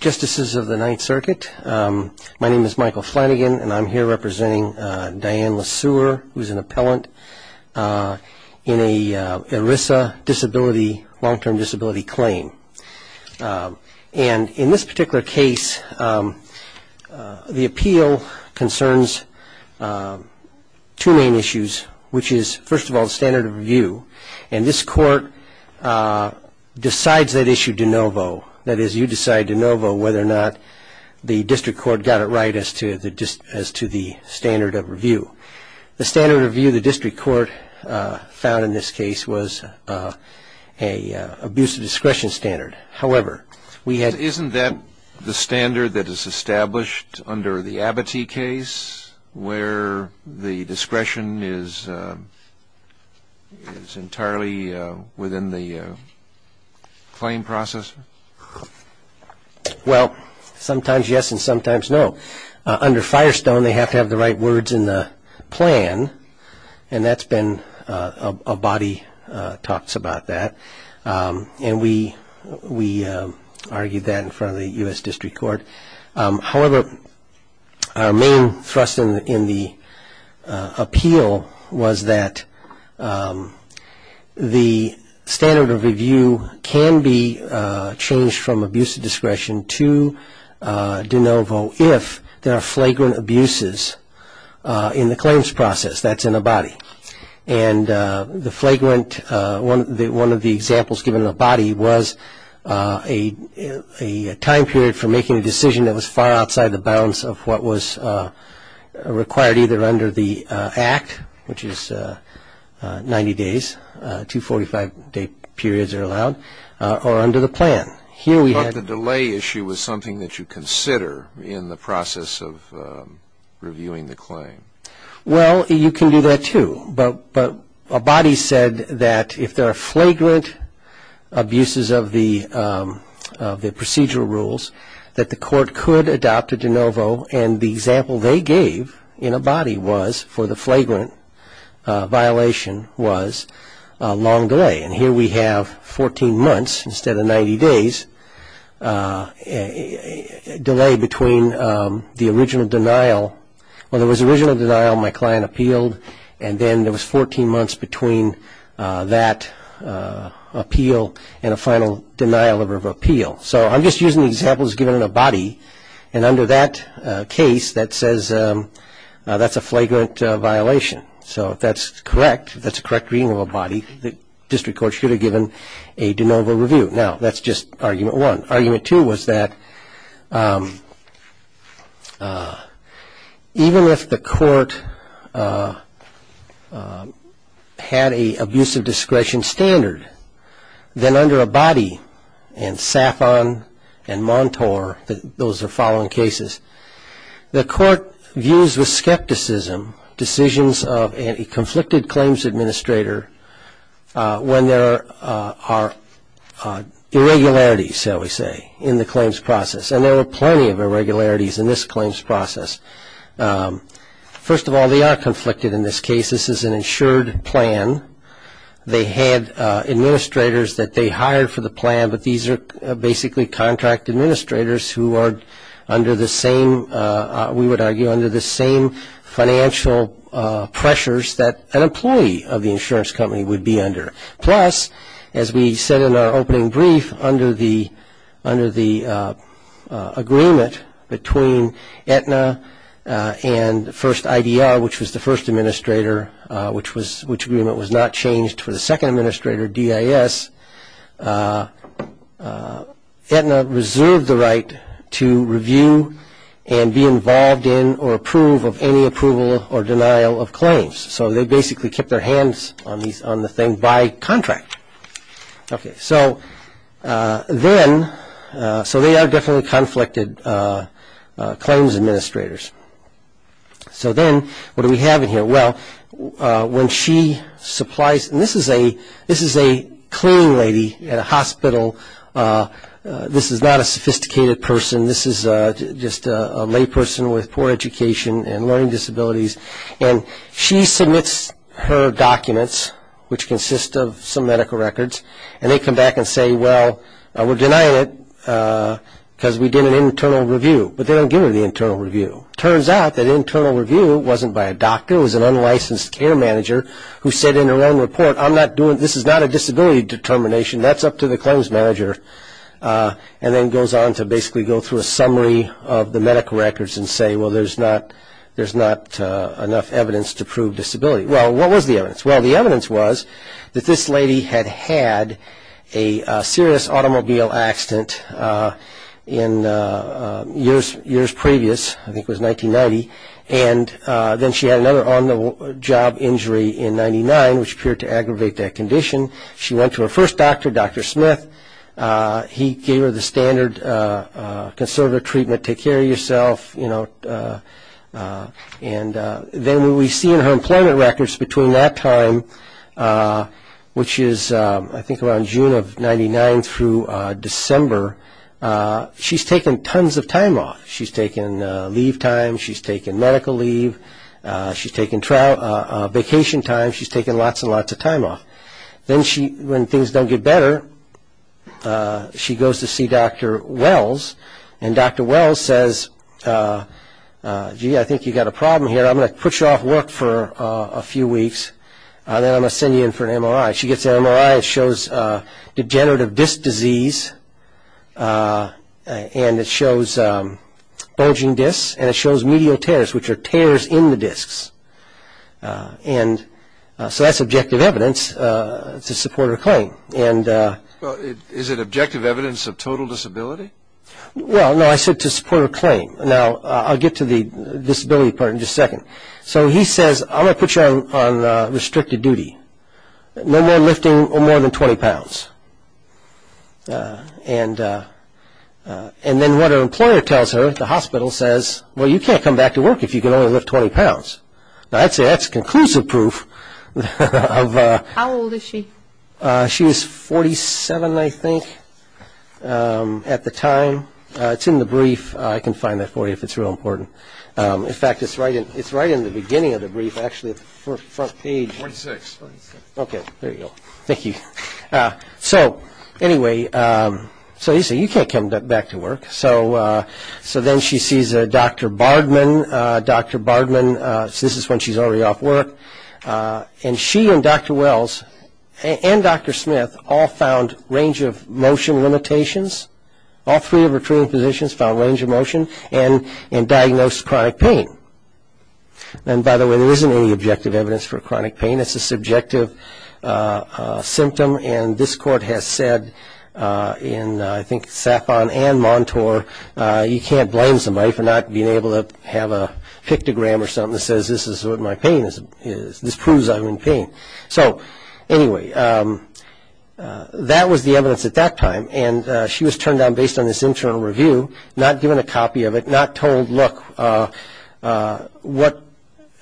Justice of the Ninth Circuit, my name is Michael Flanagan and I'm here representing Dianne LeSuer, who is an appellant in an ERISA disability, long-term disability claim. And in this particular case, the appeal concerns two main issues, which is, first of all, standard of review, and this court decides that issue de novo, that is, you decide de novo whether or not the district court got it right as to the standard of review. The standard of review the district court found in this case was an abuse of discretion standard. However, we had Isn't that the standard that is established under the Abbatee case, where the discretion is entirely within the claim process? Well, sometimes yes and sometimes no. Under Firestone, they have to have the right words in the plan, and that's been, a body talks about that. And we argued that in front of the U.S. District Court. However, our main thrust in the appeal was that the standard of review can be changed from abuse of discretion to de novo if there are flagrant abuses in the claims process, that's in a body. And the flagrant, one of the examples given in the body was a time period for making a decision that was far outside the bounds of what was required either under the Act, which is 90 days, 245-day periods are allowed, or under the plan. Here we had But the delay issue was something that you consider in the process of reviewing the claim. Well, you can do that too. But Abbatee said that if there are flagrant abuses of the procedural rules, that the court could adopt a de novo, and the example they gave in Abbatee was for the flagrant violation was a long delay. And here we have 14 months instead of 90 days, a delay between the original denial, well there was original denial, my client appealed, and then there was 14 months between that appeal and a final denial of appeal. So I'm just using the examples given in Abbatee, and under that case that says that's a flagrant violation. So if that's correct, that's a correct reading of Abbatee, the district court should have given a de novo review. Now that's just argument one. Argument two was that even if the court had a abusive discretion standard, then under Abbatee, and Safon, and Montour, those are following cases, the court views with skepticism decisions of a conflicted claims administrator when there are irregularities, shall we say, in the claims process. And there are plenty of irregularities in this claims process. First of all, they are conflicted in this case. This is an insured plan. They had administrators that they hired for the plan, but these are basically contract administrators who are under the same, we would argue, under the same financial pressures that an employee of the insurance company would be under. Plus, as we said in our opening brief, under the agreement between Aetna and first IDR, which was the first administrator, which agreement was not changed for the second administrator DIS, Aetna reserved the right to review and be involved in or approve of any approval or denial of claims. So they basically kept their hands on the thing by contract. So then, so they are definitely conflicted claims administrators. So then, what do we have in here? Well, when she supplies, and this is a cleaning lady at a hospital. This is not a sophisticated person. This is just a layperson with poor education and learning disabilities. And she submits her documents, which consist of some medical records, and they come back and say, well, we're denying it because we did an internal review. But they don't give her the internal review. Turns out that internal review wasn't by a doctor. It was an unlicensed care manager who said in her own report, I'm not doing, this is not a disability determination. That's up to the claims manager, and then goes on to basically go through a summary of the medical records and say, well, there's not enough evidence to prove disability. Well, what was the evidence? Well, the evidence was that this lady had had a serious automobile accident in years previous. I think it was 1990, and then she had another on-the-job injury in 99, which appeared to aggravate that condition. She went to her first doctor, Dr. Smith. He gave her the standard conservative treatment, take care of yourself, you know. And then we see in her employment records between that time, which is I think around June of 99 through December, she's taken tons of time off. She's taken leave time. She's taken medical leave. She's taken vacation time. She's taken lots and lots of time off. Then when things don't get better, she goes to see Dr. Wells. And Dr. Wells says, gee, I think you've got a problem here. I'm going to put you off work for a few weeks, and then I'm going to send you in for an MRI. She gets an MRI. It shows degenerative disc disease, and it shows bulging discs, and it shows medial tears, which are tears in the discs. And so that's objective evidence to support her claim. And... Well, is it objective evidence of total disability? Well, no, I said to support her claim. Now, I'll get to the disability part in just a second. So he says, I'm going to put you on restricted duty. No more lifting more than 20 pounds. And then what her employer tells her, the hospital says, well, you can't come back to work if you can only lift 20 pounds. Now, that's conclusive proof of... How old is she? She was 47, I think, at the time. It's in the brief. I can find that for you if it's real important. In fact, it's right in the beginning of the brief, actually, at the front page. 46. Okay, there you go. Thank you. So, anyway, so he said, you can't come back to work. So then she sees a Dr. Bardman, Dr. Bardman, so this is when she's already off work. And she and Dr. Wells and Dr. Smith all found range of motion limitations. All three of her treating physicians found range of motion and diagnosed chronic pain. And, by the way, there isn't any objective evidence for chronic pain. It's a subjective symptom, and this court has said in, I think, Safon and Montour, you can't blame somebody for not being able to have a pictogram or something that says this is what my pain is. This proves I'm in pain. So, anyway, that was the evidence at that time, and she was turned on based on this internal review, not given a copy of it, not told, look, what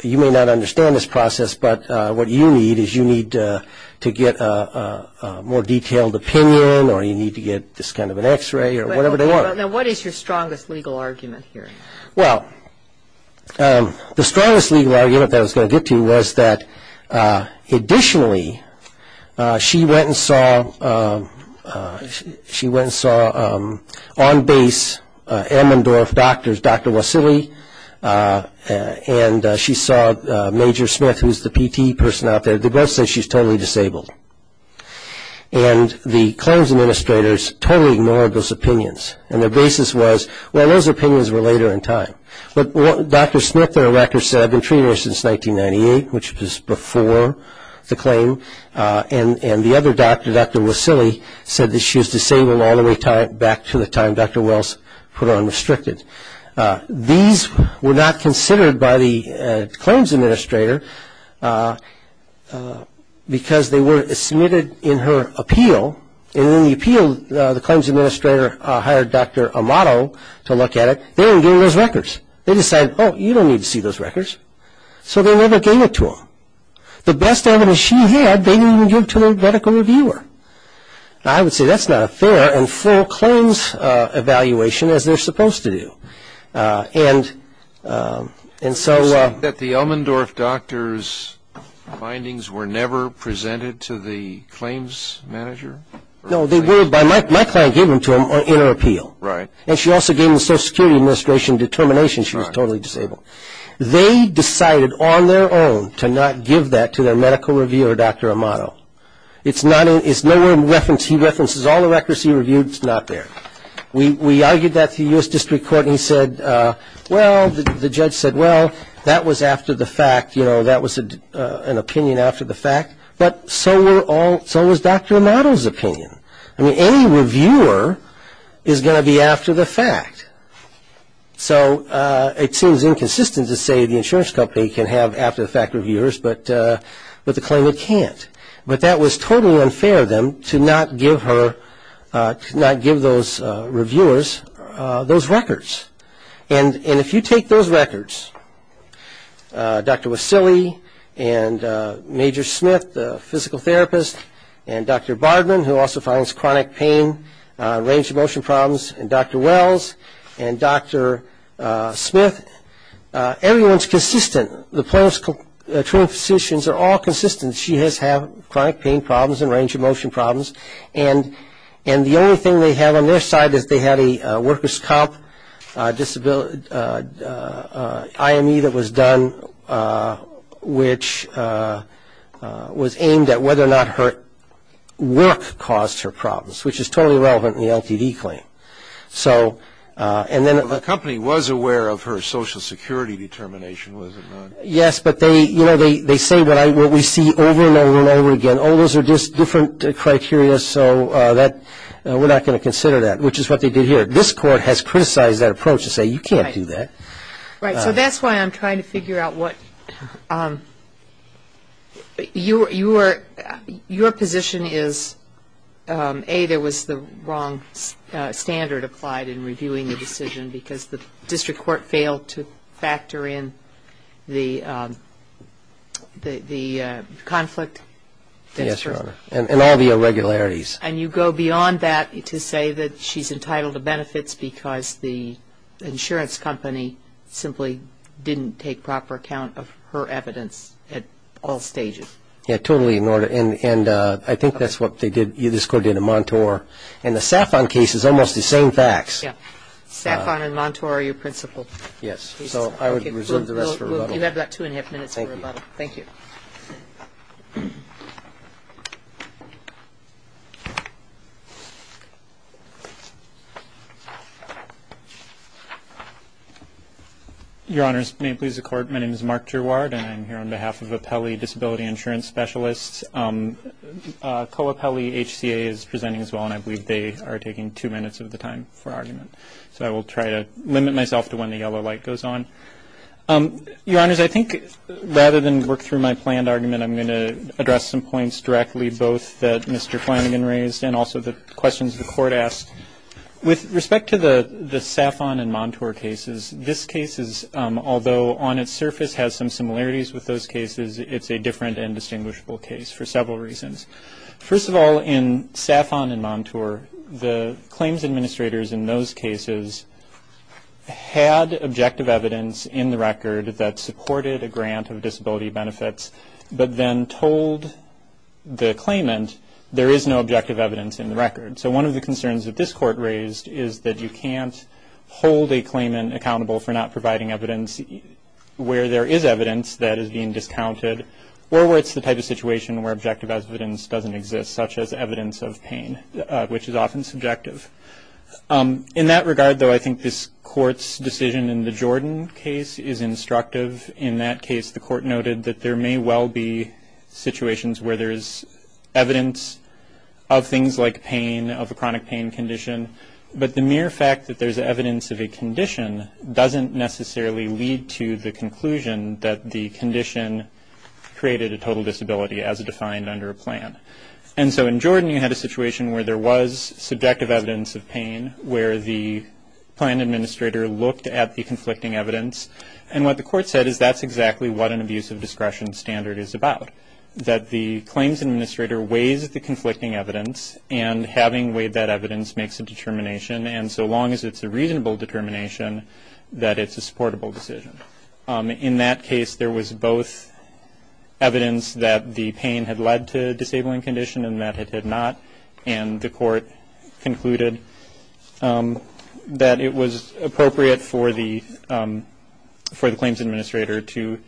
you may not understand this process, but what you need is you need to get a more detailed opinion or you need to get this kind of an x-ray or whatever they are. Now, what is your strongest legal argument here? Well, the strongest legal argument that I was going to get to was that, additionally, she went and saw on base Ammendorf doctors, Dr. Wassily, and she saw Major Smith, who's the PT person out there, they both said she's totally disabled. And the claims administrators totally ignored those opinions, and their basis was, well, those opinions were later in time. But Dr. Smith, their records said, I've been treating her since 1998, which was before the claim, and the other doctor, Dr. Wassily, said that she was disabled all the way back to the time Dr. Wells put her on restricted. These were not considered by the claims administrator because they were submitted in her appeal, and in the appeal, the claims administrator hired Dr. Amato to look at it. They didn't give her those records. They decided, oh, you don't need to see those records, so they never gave it to them. The best evidence she had, they didn't even give to a medical reviewer. Now, I would say that's not a fair and full claims evaluation, as they're supposed to do. And, and so. That the Ammendorf doctors' findings were never presented to the claims manager? No, they were, my client gave them to him in her appeal. Right. And she also gave the Social Security Administration determination she was totally disabled. They decided on their own to not give that to their medical reviewer, Dr. Amato. It's not, it's never referenced, he references all the records he reviewed, it's not there. We, we argued that to the U.S. District Court, and he said, well, the judge said, well, that was after the fact, you know, that was an opinion after the fact. But so were all, so was Dr. Amato's opinion. I mean, any reviewer is going to be after the fact. So, it seems inconsistent to say the insurance company can have after the fact reviewers, but, but the claimant can't. But that was totally unfair of them to not give her, to not give those reviewers those records. And, and if you take those records, Dr. Wassily and Major Smith, the physical therapist, and Dr. Bardman, who also finds chronic pain, range of motion problems, and Dr. Wells, and Dr. Smith, everyone's consistent. The plaintiff's twin physicians are all consistent. She has had chronic pain problems and range of motion problems. And, and the only thing they have on their side is they had a worker's comp disability, IME that was done, which was aimed at whether or not her work caused her problems, which is totally irrelevant in the LTD claim. So, and then. The company was aware of her social security determination, was it not? Yes, but they, you know, they, they say what I, what we see over and over and over again, oh, those are just different criteria, so that, we're not going to consider that, which is what they did here. This Court has criticized that approach to say, you can't do that. Right. So that's why I'm trying to figure out what, your, your, your position is, A, there was the wrong standard applied in reviewing the decision, because the district court failed to factor in the, the, the conflict. Yes, Your Honor, and all the irregularities. And you go beyond that to say that she's entitled to benefits because the insurance company simply didn't take proper account of her evidence at all stages. Yeah, totally in order, and, and I think that's what they did, this Court did in Montour, and the Safon case is almost the same facts. Yeah, Safon and Montour are your principal. Yes, so I would reserve the rest for rebuttal. You have about two and a half minutes for rebuttal. Thank you. Your Honors, may it please the Court, my name is Mark Gerward, and I'm here on behalf of Apelli Disability Insurance Specialists. Co-Apelli HCA is presenting as well, and I believe they are taking two minutes of the time for argument. So I will try to limit myself to when the yellow light goes on. Your Honors, I think rather than work through my planned argument, I'm going to address some points directly both that Mr. Flanagan raised and also the questions the Court asked. With respect to the Safon and Montour cases, this case is, although on its surface has some similarities with those cases, it's a different and distinguishable case for several reasons. First of all, in Safon and Montour, the claims administrators in those cases had objective evidence in the record that supported a grant of disability benefits. But then told the claimant, there is no objective evidence in the record. So one of the concerns that this Court raised is that you can't hold a claimant accountable for not providing evidence where there is evidence that is being discounted or where it's the type of situation where objective evidence doesn't exist, such as evidence of pain, which is often subjective. In that regard, though, I think this Court's decision in the Jordan case is instructive. In that case, the Court noted that there may well be situations where there's evidence of things like pain, of a chronic pain condition, but the mere fact that there's evidence of a condition doesn't necessarily lead to the conclusion that the condition created a total disability as defined under a plan. And so in Jordan, you had a situation where there was subjective evidence of pain, where the plan administrator looked at the conflicting evidence. And what the Court said is that's exactly what an abuse of discretion standard is about, that the claims administrator weighs the conflicting evidence and having weighed that evidence makes a determination. And so long as it's a reasonable determination, that it's a supportable decision. In that case, there was both evidence that the pain had led to a disabling condition and that it had not. And the Court concluded that it was appropriate for the claims administrator to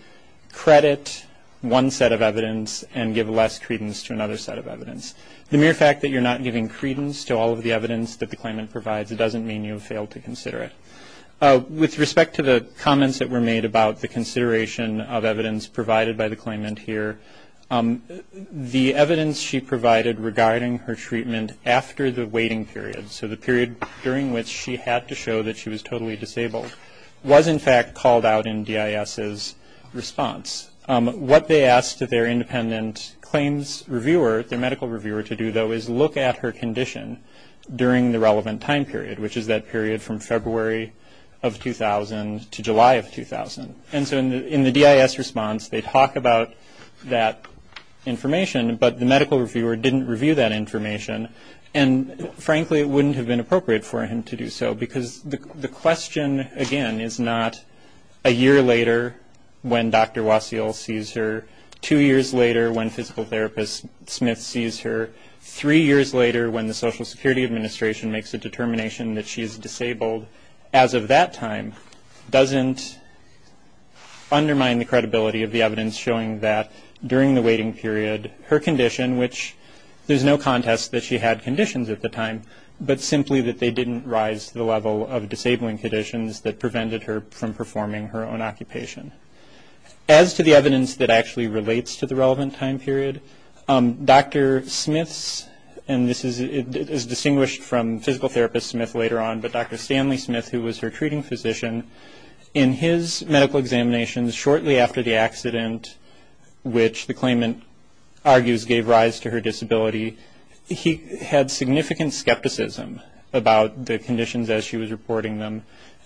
credit one set of evidence and give less credence to another set of evidence. The mere fact that you're not giving credence to all of the evidence that the claimant provides doesn't mean you have failed to consider it. With respect to the comments that were made about the consideration of evidence provided by the claimant here, the evidence she provided regarding her treatment after the waiting period, so the period during which she had to show that she was totally disabled, was in fact called out in DIS's response. What they asked their independent claims reviewer, their medical reviewer, to do though is look at her condition during the relevant time period, which is that period from February of 2000 to July of 2000. And so in the DIS response, they talk about that information, but the medical reviewer didn't review that information. And frankly, it wouldn't have been appropriate for him to do so, because the question, again, is not a year later when Dr. Waseel sees her, two years later when physical therapist Smith sees her, three years later when the Social Security Administration makes a determination that she is disabled as of that time, doesn't undermine the credibility of the evidence showing that during the waiting period, her condition, which there's no contest that she had conditions at the time, but simply that they didn't rise to the level of disabling conditions that prevented her from performing her own occupation. As to the evidence that actually relates to the relevant time period, Dr. Smith's, and this is distinguished from physical therapist Smith later on, but Dr. Stanley Smith, who was her treating physician, in his medical examinations shortly after the accident, which the claimant argues gave rise to her disability, he had significant skepticism about the conditions as she was reporting them.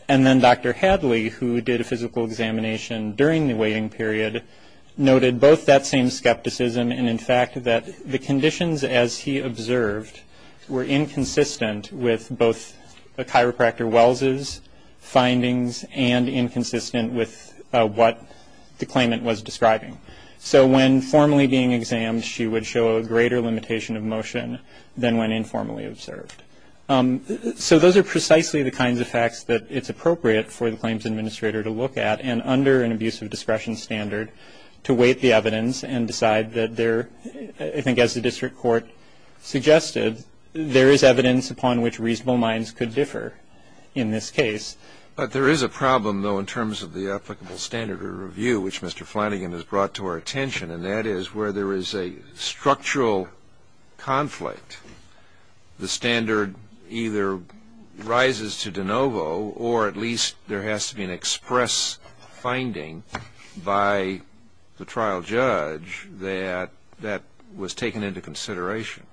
And then Dr. Hadley, who did a physical examination during the waiting period, noted both that same skepticism and, in fact, that the conditions, as he observed, were inconsistent with both the chiropractor Wells' findings and inconsistent with what the claimant was describing. So when formally being examined, she would show a greater limitation of motion than when informally observed. So those are precisely the kinds of facts that it's appropriate for the claims administrator to look at, and under an abuse of discretion standard, to weight the evidence and decide that there, I think as the district court suggested, there is evidence upon which reasonable minds could differ in this case. But there is a problem, though, in terms of the applicable standard of review, which Mr. Flanagan has brought to our attention, and that is where there is a structural conflict. The standard either rises to de novo, or at least there has to be an express finding by the trial judge that that was taken into consideration.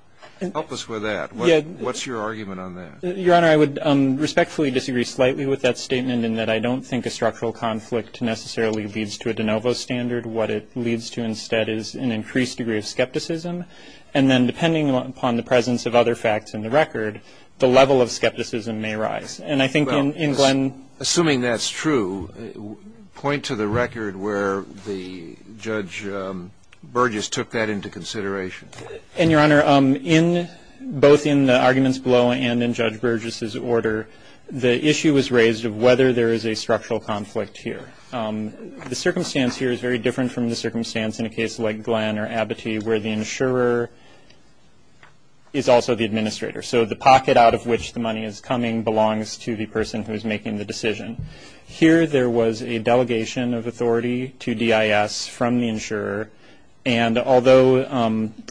Help us with that. What's your argument on that? Your Honor, I would respectfully disagree slightly with that statement in that I don't think a structural conflict necessarily leads to a de novo standard. What it leads to instead is an increased degree of skepticism. And then depending upon the presence of other facts in the record, the level of skepticism may rise. And I think in Glenn- Assuming that's true, point to the record where the Judge Burgess took that into consideration. And, Your Honor, both in the arguments below and in Judge Burgess's order, the issue was raised of whether there is a structural conflict here. The circumstance here is very different from the circumstance in a case like Glenn or Abbatee where the insurer is also the administrator. So the pocket out of which the money is coming belongs to the person who is making the decision. Here there was a delegation of authority to DIS from the insurer. And although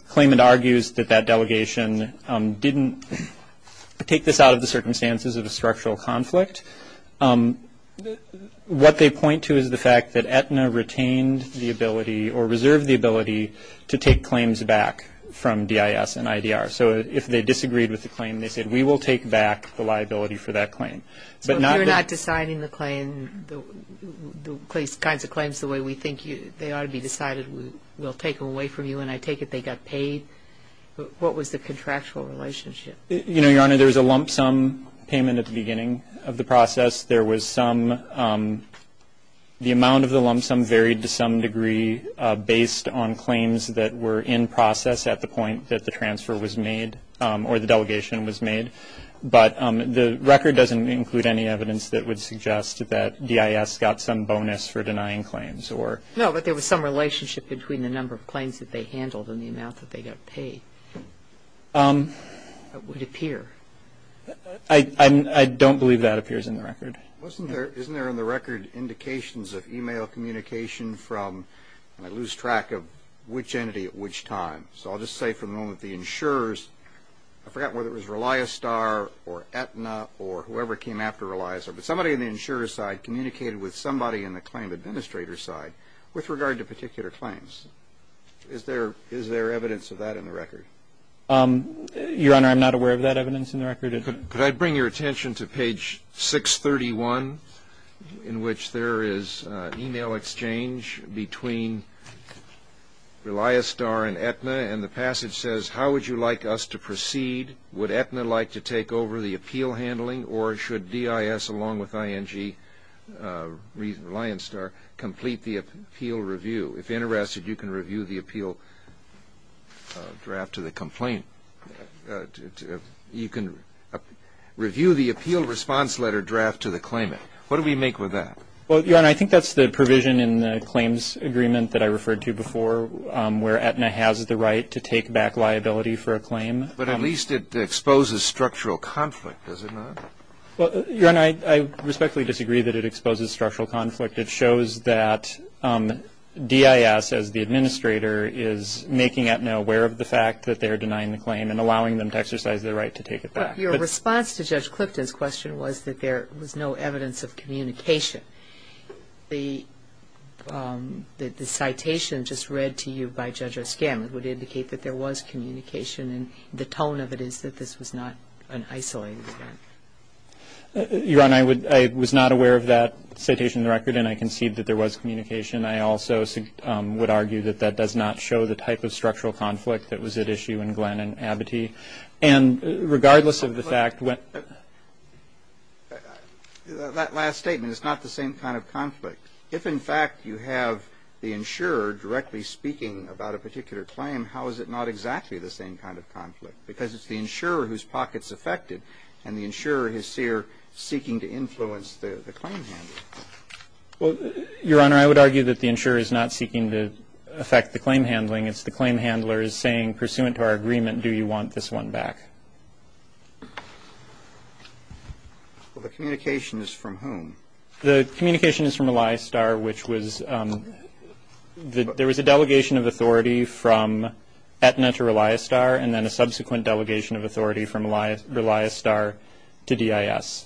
Klayman argues that that delegation didn't take this out of the circumstances of a structural conflict, what they point to is the fact that Aetna retained the ability or reserved the ability to take claims back from DIS and IDR. So if they disagreed with the claim, they said, we will take back the liability for that claim. But not- If you're not deciding the claim, the kinds of claims the way we think they ought to be decided, we'll take them away from you. And I take it they got paid. What was the contractual relationship? You know, Your Honor, there was a lump sum payment at the beginning of the process. There was some, the amount of the lump sum varied to some degree based on claims that were in process at the point that the transfer was made or the delegation was made. But the record doesn't include any evidence that would suggest that DIS got some bonus for denying claims or- No, but there was some relationship between the number of claims that they handled and the amount that they got paid. It would appear. I don't believe that appears in the record. Wasn't there, isn't there in the record indications of email communication from, I lose track of which entity at which time. So I'll just say for the moment the insurers, I forgot whether it was Reliastar or Aetna or whoever came after Reliastar, but somebody in the insurer's side communicated with somebody in the claim administrator's side with regard to particular claims. Is there, is there evidence of that in the record? Your Honor, I'm not aware of that evidence in the record. Could I bring your attention to page 631 in which there is email exchange between Reliastar and Aetna and the passage says, how would you like us to proceed? Would Aetna like to take over the appeal handling or should DIS along with ING Reliastar complete the appeal review? If interested, you can review the appeal draft to the complaint. You can review the appeal response letter draft to the claimant. What do we make with that? Well, Your Honor, I think that's the provision in the claims agreement that I referred to before where Aetna has the right to take back liability for a claim. But at least it exposes structural conflict, does it not? Well, Your Honor, I respectfully disagree that it exposes structural conflict. It shows that DIS, as the administrator, is making Aetna aware of the fact that they are denying the claim and allowing them to exercise their right to take it back. Your response to Judge Clifton's question was that there was no evidence of communication. The citation just read to you by Judge O'Scann would indicate that there was communication and the tone of it is that this was not an isolated event. Your Honor, I was not aware of that citation in the record and I concede that there was communication. I also would argue that that does not show the type of structural conflict that was at issue in Glenn and Abbatee. And regardless of the fact when That last statement is not the same kind of conflict. If, in fact, you have the insurer directly speaking about a particular claim, how is it not exactly the same kind of conflict? Because it's the insurer whose pocket's affected and the insurer is here seeking to influence the claim handler. Well, Your Honor, I would argue that the insurer is not seeking to affect the claim handling. It's the claim handler is saying, pursuant to our agreement, do you want this one back? Well, the communication is from whom? The communication is from Elias Starr, which was, there was a delegation of authority from Aetna to Elias Starr and then a subsequent delegation of authority from Elias Starr to DIS.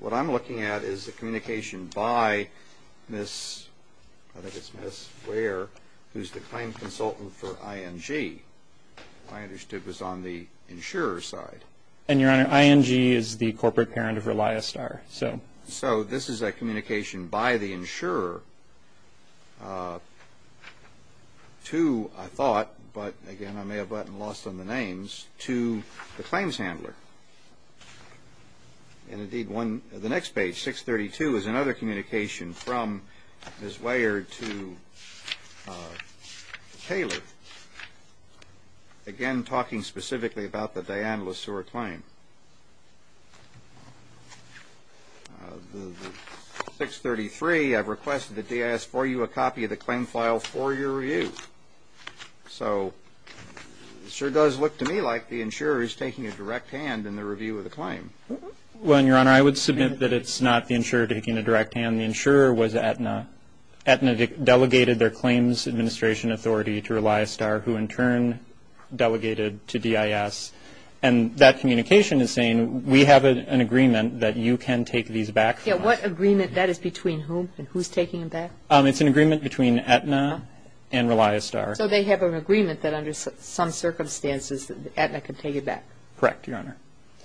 What I'm looking at is the communication by Miss, I think it's Miss Ware, who's the claim consultant for ING. I understood it was on the insurer's side. And Your Honor, ING is the corporate parent of Elias Starr, so. So, this is a communication by the insurer to, I thought, but again, I may have gotten lost on the names, to the claims handler. And indeed, the next page, 632, is another communication from Miss Ware to Taylor. Again, talking specifically about the Dianne LeSueur claim. The 633, I've requested that DIS for you a copy of the claim file for your review. So, it sure does look to me like the insurer is taking a direct hand in the review of the claim. Well, Your Honor, I would submit that it's not the insurer taking a direct hand. The insurer was Aetna. Aetna delegated their claims administration authority to Elias Starr, who in turn delegated to DIS. And that communication is saying, we have an agreement that you can take these back. Yeah, what agreement? That is between whom? And who's taking them back? It's an agreement between Aetna and Elias Starr. So, they have an agreement that under some circumstances, Aetna can take it back? Correct, Your Honor.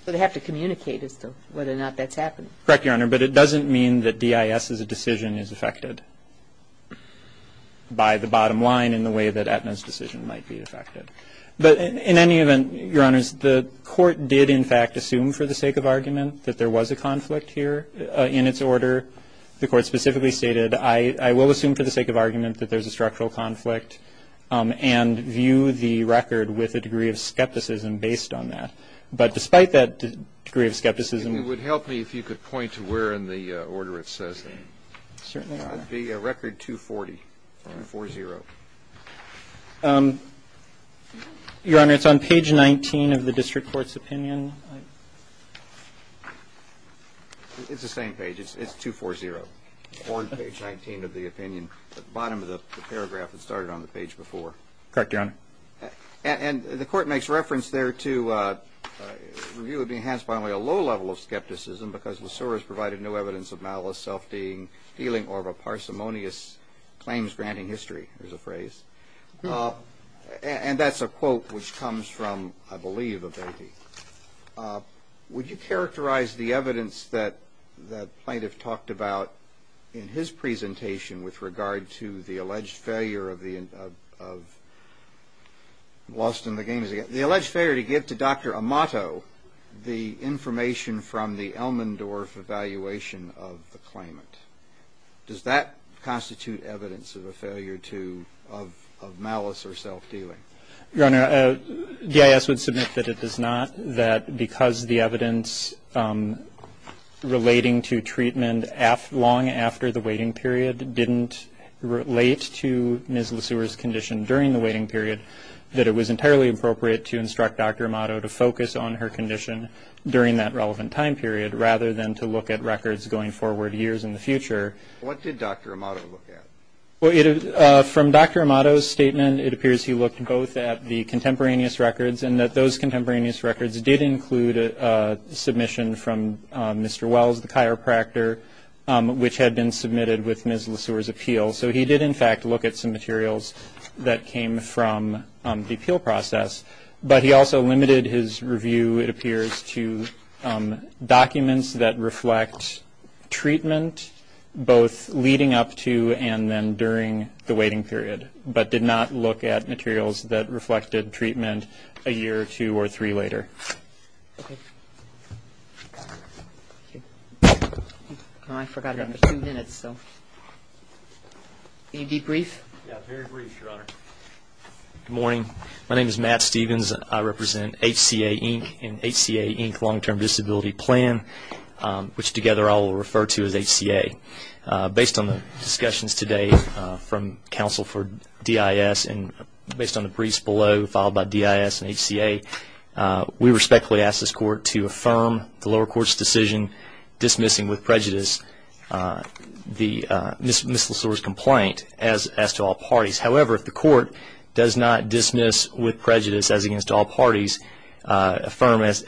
So, they have to communicate as to whether or not that's happening? Correct, Your Honor. But it doesn't mean that DIS's decision is affected by the bottom line in the way that Aetna's decision might be affected. But in any event, Your Honors, the court did in fact assume for the sake of argument that there was a conflict here in its order. The court specifically stated, I will assume for the sake of argument that there's a structural conflict and view the record with a degree of skepticism based on that. But despite that degree of skepticism. It would help me if you could point to where in the order it says that. Certainly, Your Honor. It would be record 240, 4-0. Your Honor, it's on page 19 of the district court's opinion. It's the same page, it's 2-4-0. Or page 19 of the opinion, at the bottom of the paragraph that started on the page before. Correct, Your Honor. And the court makes reference there to, review would be enhanced by only a low level of skepticism. Because Lesore has provided no evidence of malice, self-dealing, or of a parsimonious claims granting history, is a phrase. And that's a quote which comes from, I believe, a baby. Would you characterize the evidence that the plaintiff talked about in his presentation with regard to the alleged failure of the lost in the games. The alleged failure to give to Dr. Amato the information from the Elmendorf evaluation of the claimant. Does that constitute evidence of a failure to, of malice or self-dealing? Your Honor, GIS would submit that it does not. That because the evidence relating to treatment long after the waiting period didn't relate to Ms. Lesore's condition during the waiting period. That it was entirely appropriate to instruct Dr. Amato to focus on her condition during that relevant time period. Rather than to look at records going forward years in the future. What did Dr. Amato look at? Well, from Dr. Amato's statement, it appears he looked both at the contemporaneous records. And that those contemporaneous records did include a submission from Mr. Wells, the chiropractor, which had been submitted with Ms. Lesore's appeal. So he did, in fact, look at some materials that came from the appeal process. But he also limited his review, it appears, to documents that reflect treatment, both leading up to and then during the waiting period. But did not look at materials that reflected treatment a year or two or three later. I forgot I have two minutes, so. Any debrief? Yeah, very brief, Your Honor. Good morning. My name is Matt Stevens. I represent HCA, Inc., and HCA, Inc., Long-Term Disability Plan, which together I will refer to as HCA. Based on the discussions today from counsel for DIS, and based on the briefs below, followed by DIS and HCA, we respectfully ask this court to affirm the lower court's decision dismissing with prejudice Ms. Lesore's complaint as to all parties. However, if the court does not dismiss with prejudice as against all parties, affirm as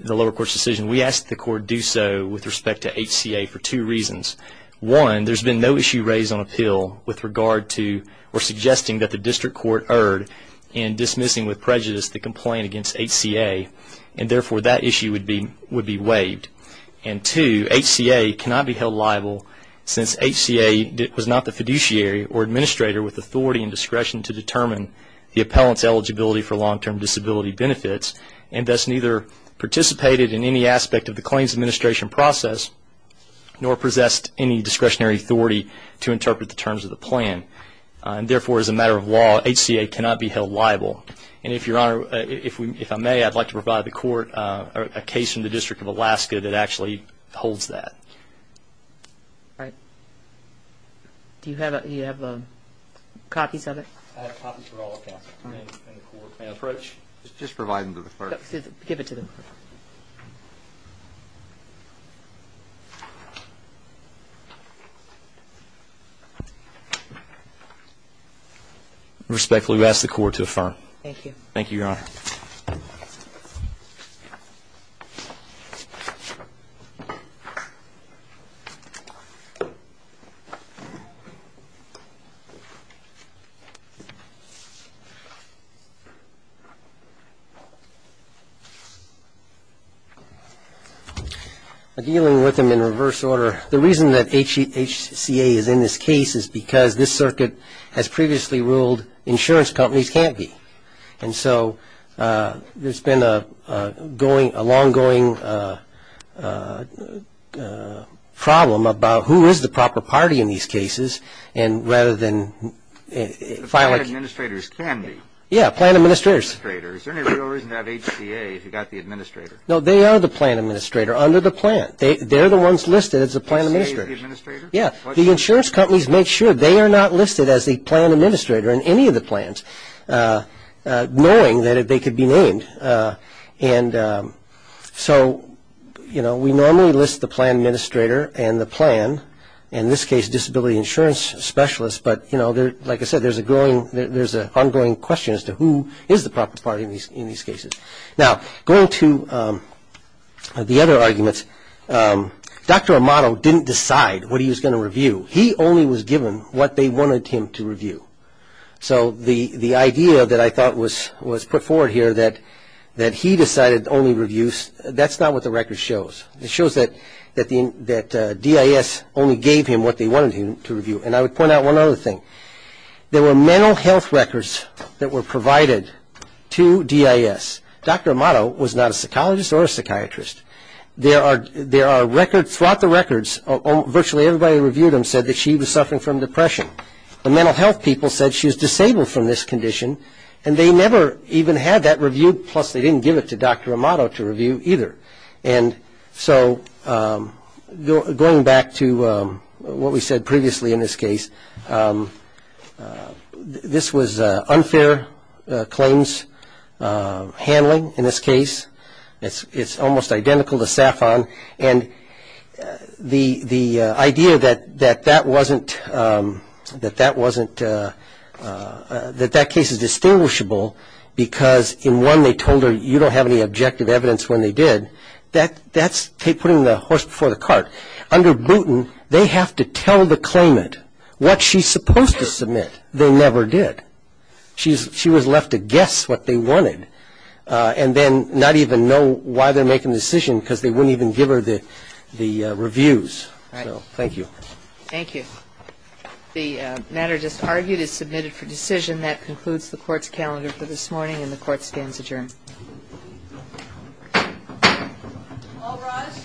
the lower court's decision. We ask the court do so with respect to HCA for two reasons. One, there's been no issue raised on appeal with regard to or suggesting that the district court erred in dismissing with prejudice the complaint against HCA. And therefore, that issue would be waived. And two, HCA cannot be held liable since HCA was not the fiduciary or discretion to determine the appellant's eligibility for long-term disability benefits, and thus neither participated in any aspect of the claims administration process, nor possessed any discretionary authority to interpret the terms of the plan. And therefore, as a matter of law, HCA cannot be held liable. And if Your Honor, if I may, I'd like to provide the court a case from the District of Alaska that actually holds that. All right. Do you have copies of it? I have copies for all accounts. May I approach? Just provide them to the clerk. Give it to them. Respectfully, we ask the court to affirm. Thank you. Thank you, Your Honor. Thank you. Dealing with them in reverse order, the reason that HCA is in this case is because this circuit has previously ruled insurance companies can't be. And so there's been a long-going problem about who is the proper party in these cases, and rather than filing... Plan administrators can be. Yeah, plan administrators. Is there any real reason to have HCA if you've got the administrator? No, they are the plan administrator under the plan. They're the ones listed as the plan administrator. HCA is the administrator? Yeah. The insurance companies make sure they are not listed as the plan administrator in any of the plans, knowing that they could be named. And so, you know, we normally list the plan administrator and the plan, in this case disability insurance specialists, but, you know, like I said, there's an ongoing question as to who is the proper party in these cases. Now, going to the other arguments, Dr. Amato didn't decide what he was going to review. He only was given what they wanted him to review. So the idea that I thought was put forward here that he decided to only review, that's not what the record shows. It shows that DIS only gave him what they wanted him to review. And I would point out one other thing. There were mental health records that were provided to DIS. Dr. Amato was not a psychologist or a psychiatrist. There are records, throughout the records, virtually everybody who reviewed them said that she was suffering from depression. The mental health people said she was disabled from this condition, and they never even had that reviewed, plus they didn't give it to Dr. Amato to review either. And so going back to what we said previously in this case, this was unfair claims handling in this case. It's almost identical to SAFON, and the idea that that case is distinguishable because in one they told her, you don't have any objective evidence when they did, that's putting the horse before the cart. Under Boutin, they have to tell the claimant what she's supposed to submit. They never did. She was left to guess what they wanted. And then not even know why they're making the decision because they wouldn't even give her the reviews. So thank you. All right. Thank you. The matter just argued is submitted for decision. That concludes the Court's calendar for this morning, and the Court stands adjourned. All rise.